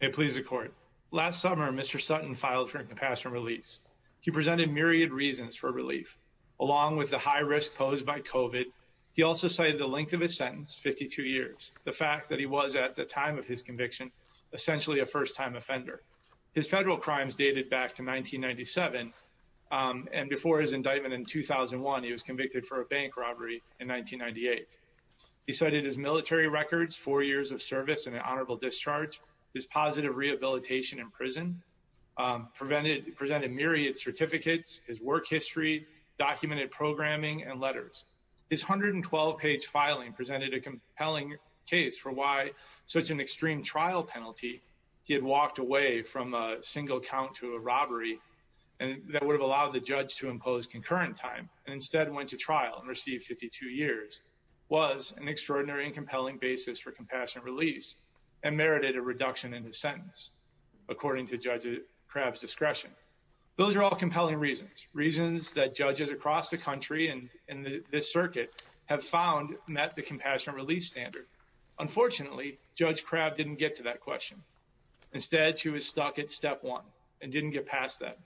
May it please the court. Last summer Mr. Sutton filed for incapacitation release. He presented myriad reasons for relief. Along with the high risk posed by COVID, he also cited the length of his sentence, 52 years, the fact that he was, at the time of his conviction, essentially a first-time offender. His federal crimes dated back to 1997 and before his indictment in 2001 he was convicted for a bank robbery in 1998. He cited his military records, four years of service and an honorable discharge, his positive rehabilitation in prison, presented myriad certificates, his work history, documented programming and letters. His 112-page filing presented a compelling case for why such an extreme trial penalty, he had walked away from a single count to a robbery that would have allowed the judge to impose concurrent time and instead went to trial and received 52 years, was an extraordinary and compassionate release and merited a reduction in his sentence according to Judge Crabb's discretion. Those are all compelling reasons, reasons that judges across the country and in this circuit have found met the compassionate release standard. Unfortunately, Judge Crabb didn't get to that question. Instead she was stuck at step one and didn't get past that.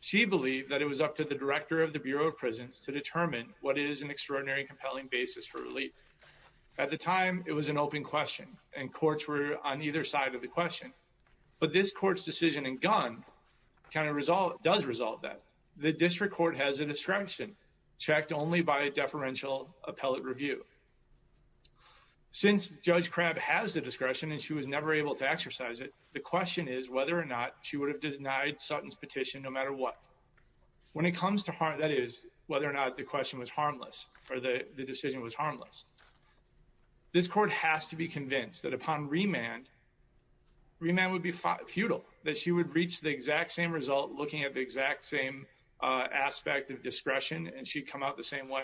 She believed that it was up to the director of the Bureau of Prisons to determine what is an extraordinary and compelling basis for relief. At the time it was an open question and courts were on either side of the question, but this court's decision and gun kind of result, does result that the district court has a discretion checked only by a deferential appellate review. Since Judge Crabb has the discretion and she was never able to exercise it, the question is whether or not she would have denied Sutton's petition no matter what. When it comes to harm, that is whether or not the question or the decision was harmless. This court has to be convinced that upon remand, remand would be futile. That she would reach the exact same result looking at the exact same aspect of discretion and she'd come out the same way.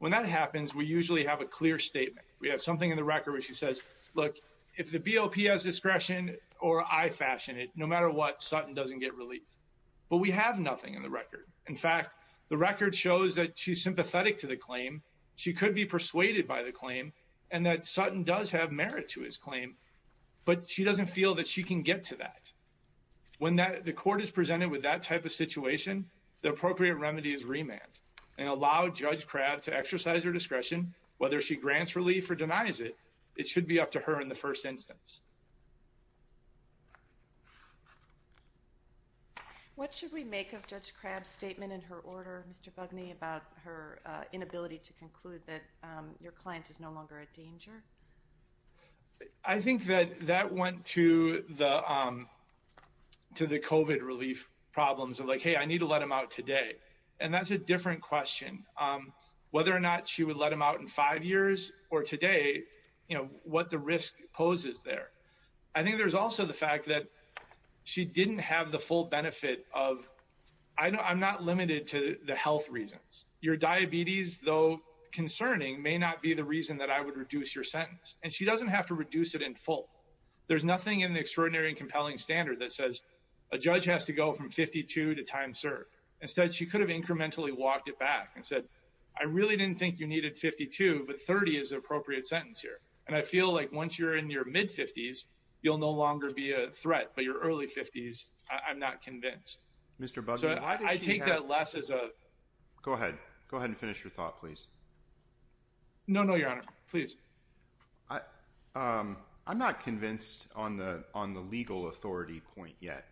When that happens we usually have a clear statement. We have something in the record where she says, look if the BOP has discretion or I fashion it, no matter what Sutton doesn't get relief. But we have nothing in the record. In fact the record shows that she's sympathetic to the claim. She could be persuaded by the claim and that Sutton does have merit to his claim, but she doesn't feel that she can get to that. When that the court is presented with that type of situation, the appropriate remedy is remand and allow Judge Crabb to exercise her discretion whether she grants relief or denies it. It should be up to the court to decide whether or not to grant relief or deny it. I think that went to the COVID relief problems of hey I need to let him out today. That's a different question. Whether or not she would let him out in five years or today, what the risk poses there. I think there's also the fact that she didn't have the full benefit of, I'm not limited to the health reasons. Your diabetes though concerning may not be the reason that I would reduce your sentence. And she doesn't have to reduce it in full. There's nothing in the extraordinary and compelling standard that says a judge has to go from 52 to time served. Instead she could have incrementally walked it back and said I really didn't think you needed 52, but 30 is the appropriate sentence here. And I feel like once you're in your mid-50s you'll no longer be a threat. But your early 50s, I'm not convinced. I take that less as a... Go ahead. Go ahead and finish your thought please. No, no, your honor. Please. I'm not convinced on the legal authority point yet.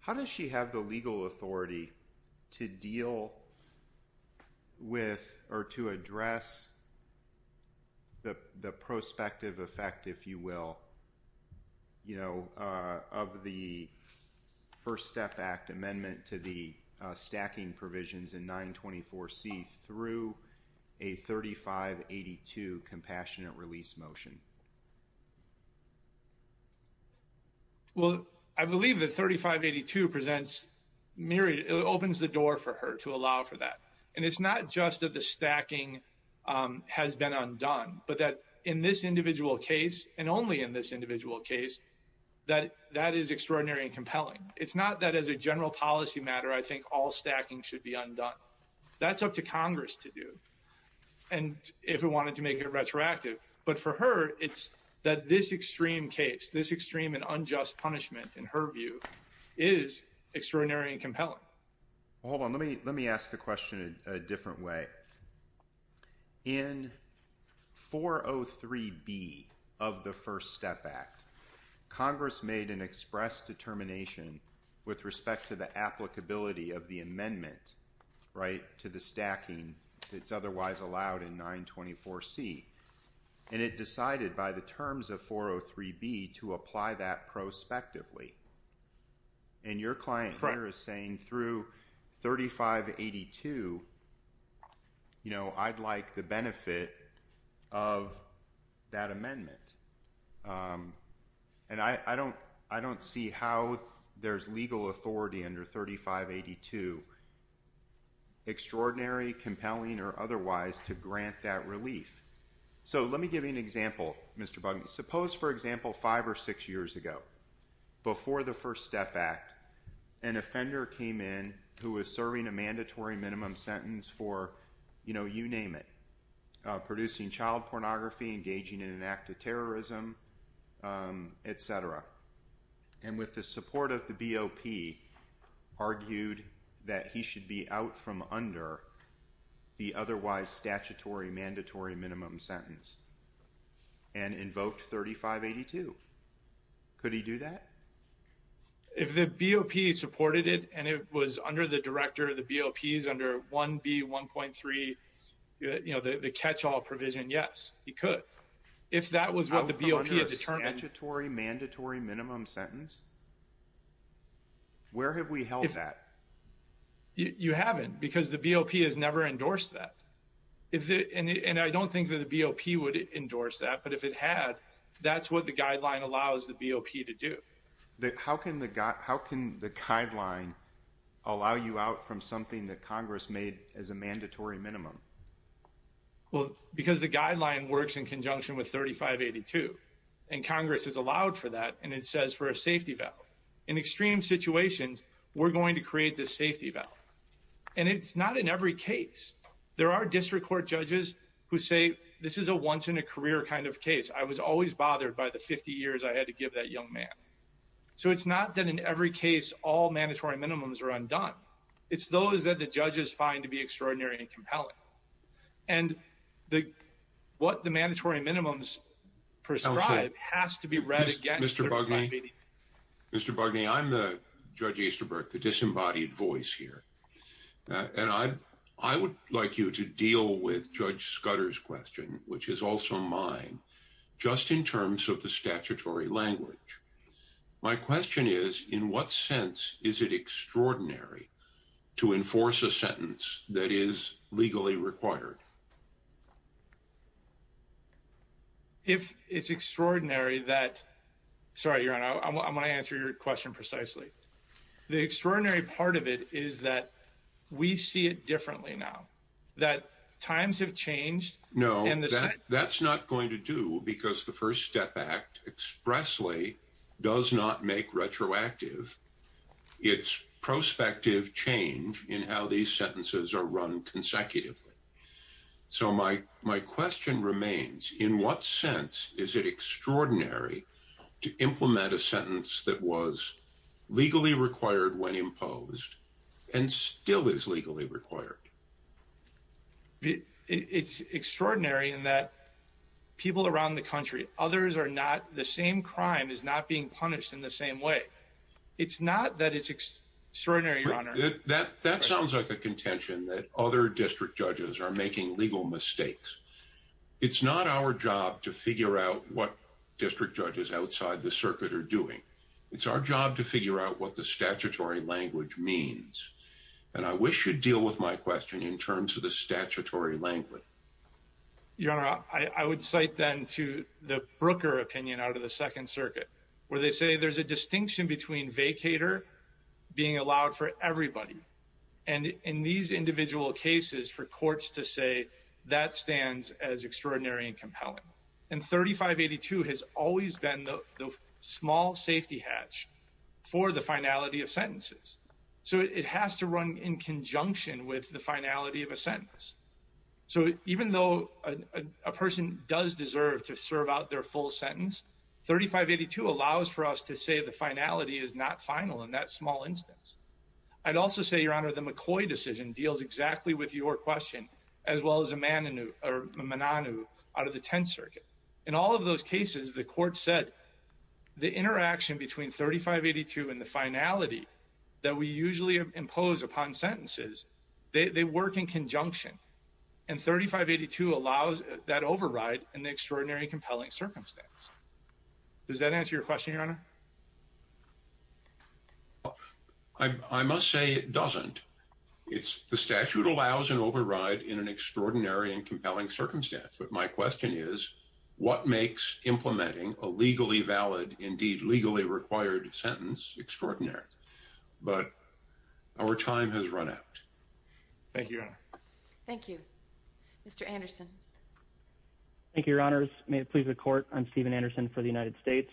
How does she have the legal authority to deal with or to address the prospective effect, if you will, of the First Step Act amendment to the stacking provisions in 924C through a 3582 compassionate release motion? Well, I believe that 3582 presents... It opens the door for her to allow for that. And it's not just that the stacking has been undone, but that in this individual case, and only in this individual case, that that is extraordinary and compelling. It's not that as a general policy matter I think all stacking should be undone. That's up to Congress to do. And if it wanted to make it that this extreme case, this extreme and unjust punishment, in her view, is extraordinary and compelling. Hold on. Let me ask the question a different way. In 403B of the First Step Act, Congress made an express determination with respect to the applicability of the amendment to the stacking that's otherwise allowed in 924C. And it decided by the terms of 403B to apply that prospectively. And your client here is saying through 3582, I'd like the benefit of that extraordinary, compelling, or otherwise to grant that relief. So let me give you an example, Mr. Bugman. Suppose, for example, five or six years ago, before the First Step Act, an offender came in who was serving a mandatory minimum sentence for, you know, you name it, producing child pornography, engaging in an act of terrorism, etc. And with the support of the BOP, argued that he should be out from under the otherwise statutory mandatory minimum sentence and invoked 3582. Could he do that? If the BOP supported it and it was under the director of the BOPs under 1B1.3, you know, the catch-all provision, yes, he could. If that was what the BOP had determined. Under a statutory mandatory minimum sentence? Where have we held that? You haven't because the BOP has never endorsed that. And I don't think that the BOP would endorse that, but if it had, that's what the guideline allows the BOP to do. How can the guideline allow you out from something that Congress made as a mandatory minimum? Well, because the guideline works in conjunction with 3582, and Congress has allowed for that, and it says for a safety valve. In extreme situations, we're going to create this safety valve. And it's not in every case. There are district court judges who say, this is a once in a career kind of case. I was always bothered by the 50 years I had to give that young man. So it's not that in every case, all mandatory minimums are undone. It's those that the judges find to be extraordinary and compelling. And what the mandatory minimums prescribe has to be read against 3582. Mr. Bugney, Mr. Bugney, I'm Judge Easterbrook, the disembodied voice here. And I would like you to deal with Judge Scudder's question, which is also mine, just in terms of the statutory language. My question is, in what sense is it extraordinary to enforce a sentence that is legally required? If it's extraordinary that, sorry, Your Honor, I'm going to answer your question precisely. The extraordinary part of it is that we see it differently now, that times have changed. No, that's not going to do because the First Step Act expressly does not make retroactive. It's prospective change in how these sentences are run consecutively. So my question remains, in what sense is it extraordinary to implement a sentence that was legally required when imposed and still is legally required? It's extraordinary in that people around the country, others are not, the same crime is not being punished in the same way. It's not that it's extraordinary, Your Honor. That sounds like a contention that other district judges are making legal mistakes. It's not our job to figure out what district judges outside the circuit are doing. It's our job to figure out what the statutory language means. And I wish you'd deal with my question in terms of the statutory language. Your Honor, I would cite then to the Brooker opinion out of the Second Circuit, where they say there's a distinction between vacator being allowed for everybody. And in these individual cases, for courts to say that stands as extraordinary and compelling. And 3582 has always been the small safety hatch for the finality of sentences. So it has to run in even though a person does deserve to serve out their full sentence, 3582 allows for us to say the finality is not final in that small instance. I'd also say, Your Honor, the McCoy decision deals exactly with your question, as well as a Mananoo out of the Tenth Circuit. In all of those cases, the court said the interaction between 3582 and the finality that we usually impose upon sentences, they work in conjunction. And 3582 allows that override in the extraordinary compelling circumstance. Does that answer your question, Your Honor? I must say it doesn't. It's the statute allows an override in an extraordinary and compelling circumstance. But my question is, what makes implementing a legally valid, indeed legally required sentence extraordinary? But our time has run out. Thank you, Your Honor. Thank you, Mr. Anderson. Thank you, Your Honors. May it please the court, I'm Steven Anderson for the United States.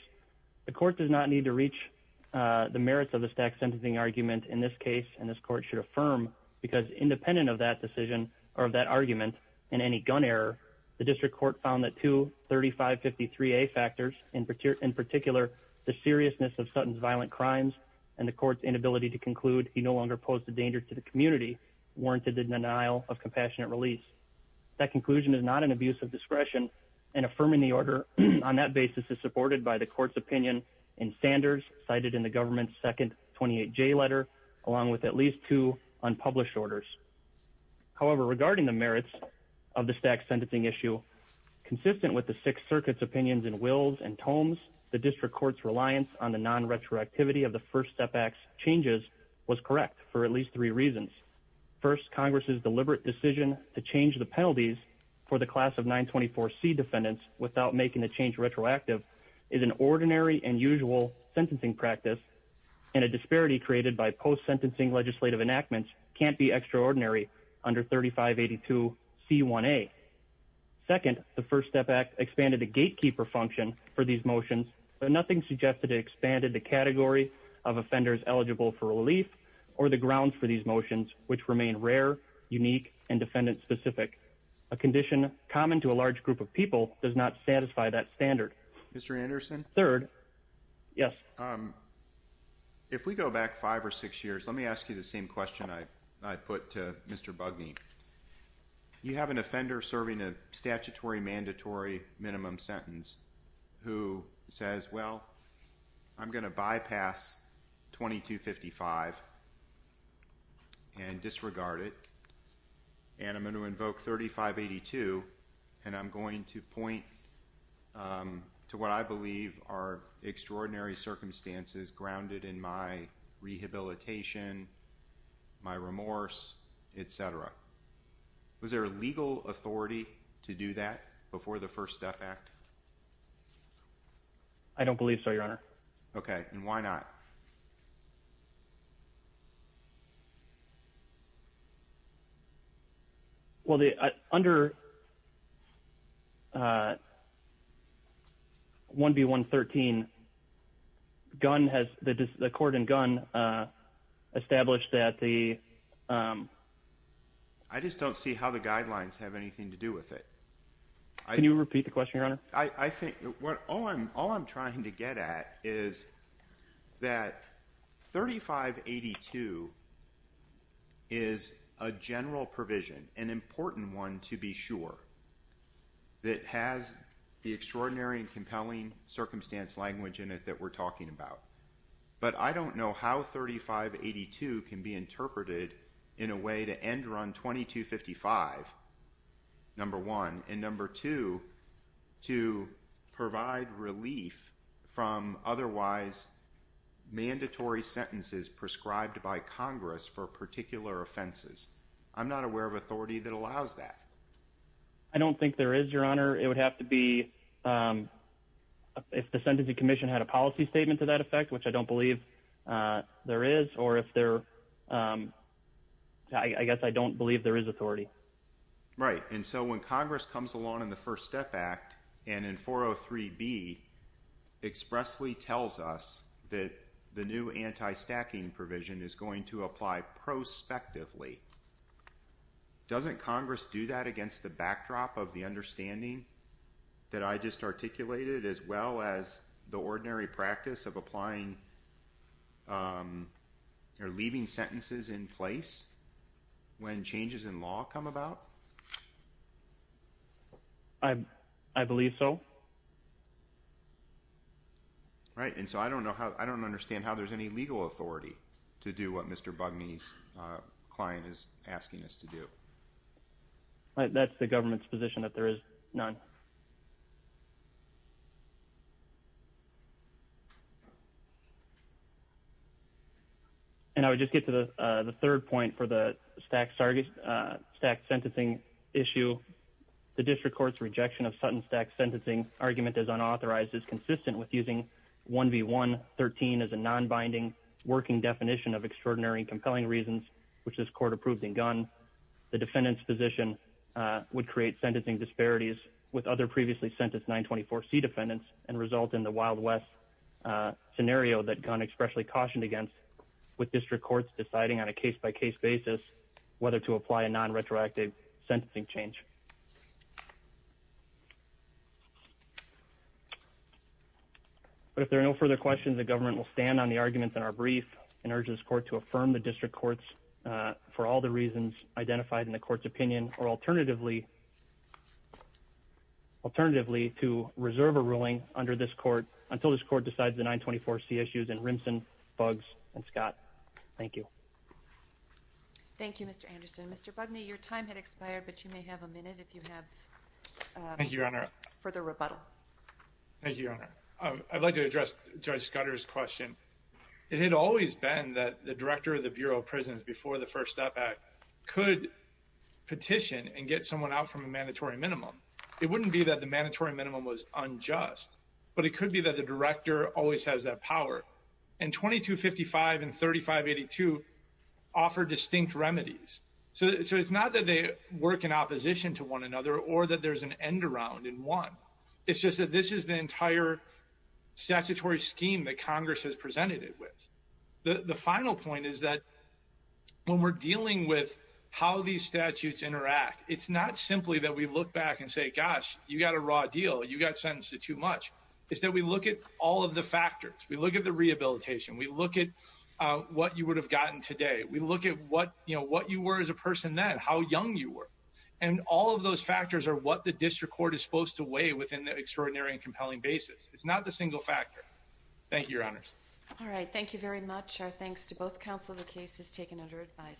The court does not need to reach the merits of the stack sentencing argument in this case. And this court should affirm because independent of that decision, or that argument, and any gun error, the district court found that two 3553A factors, in particular, the seriousness of Sutton's violent crimes, and the court's inability to conclude he no longer posed a danger to the community, warranted the denial of compassionate release. That conclusion is not an abuse of discretion. And affirming the order on that basis is supported by the court's opinion in Sanders cited in the government's second 28J letter, along with at least two unpublished orders. However, regarding the merits of the stack sentencing issue, consistent with the Sixth Circuit's opinions and wills and tomes, the district court's reliance on the non-retroactivity of the First Step Act's changes was correct for at least three reasons. First, Congress's deliberate decision to change the penalties for the class of 924C defendants without making the change retroactive is an ordinary and usual sentencing practice, and a disparity created by post extraordinary under 3582C1A. Second, the First Step Act expanded the gatekeeper function for these motions, but nothing suggested it expanded the category of offenders eligible for relief or the grounds for these motions, which remain rare, unique, and defendant-specific. A condition common to a large group of people does not satisfy that standard. Mr. Anderson? Third? Yes. Um, if we go back five or six years, let me ask you the same question I put to Mr. Bugney. You have an offender serving a statutory mandatory minimum sentence who says, well, I'm going to bypass 2255 and disregard it, and I'm going to invoke 3582, and I'm going to point to what I believe are extraordinary circumstances grounded in my rehabilitation, my remorse, etc. Was there a legal authority to do that before the First Step Act? I don't believe so, Your Honor. Okay, and why not? Well, under 1B113, the court in Gunn established that the... I just don't see how the guidelines have anything to do with it. Can you repeat the question, Your Honor? I think all I'm trying to get at is that 3582 is a general provision, an important one to be sure, that has the extraordinary and compelling circumstance language in it that we're talking about. But I don't know how 3582 can be used to authorize mandatory sentences prescribed by Congress for particular offenses. I'm not aware of authority that allows that. I don't think there is, Your Honor. It would have to be if the Sentencing Commission had a policy statement to that effect, which I don't believe there is, or if there... I guess I don't believe there is authority. Right, and so when Congress comes along in the First Step Act and in 403B expressly tells us that the new anti-stacking provision is going to apply prospectively, doesn't Congress do that against the backdrop of the understanding that I just articulated, as well as the ordinary practice of applying or leaving sentences in place when changes in law come about? I believe so. Right, and so I don't know how... I don't understand how there's any legal authority to do what Mr. Bugney's client is asking us to do. That's the government's position that there is none. And I would just get to the third point for the stacked sentencing issue. The District Court's rejection of Sutton Stacked Sentencing argument as unauthorized is consistent with using 1B.1.13 as a non-binding working definition of extraordinary and compelling reasons, which this Court approved in Gunn. The defendant's position would create sentencing disparities with other previously sentenced 924C defendants and result in the Wild West scenario that Gunn expressly cautioned against, with District Courts deciding on a case-by-case basis whether to apply a non-retroactive sentencing change. But if there are no further questions, the government will stand on the arguments in our brief and urge this Court to affirm the District Courts for all the reasons identified in the 924C issues. Thank you, Mr. Anderson. Mr. Bugney, your time has expired, but you may have a minute if you have further rebuttal. Thank you, Your Honor. I'd like to address Judge Scudder's question. It had always been that the Director of the Bureau of Prisons, before the First Step Act, could petition and get someone out from a mandatory minimum. It wouldn't be that the mandatory minimum was unjust, but it could be that the Director always has that power. And § 2255 and § 3582 offer distinct remedies. So it's not that they work in opposition to one another or that there's an end around in one. It's just that this is the entire statutory scheme that Congress has presented it with. The final point is that when we're dealing with how these statutes interact, it's not simply that we look back and say, gosh, you got a raw deal. You got sentenced to too much. It's that we look at all of the factors. We look at the rehabilitation. We look at what you would have gotten today. We look at what, you know, what you were as a person then, how young you were. And all of those factors are what the District Court is supposed to weigh within the extraordinary and compelling basis. It's not the single factor. Thank you, Your Honors. All right. Thank you very much. Our thanks to both counsel. The case is taken under advisement.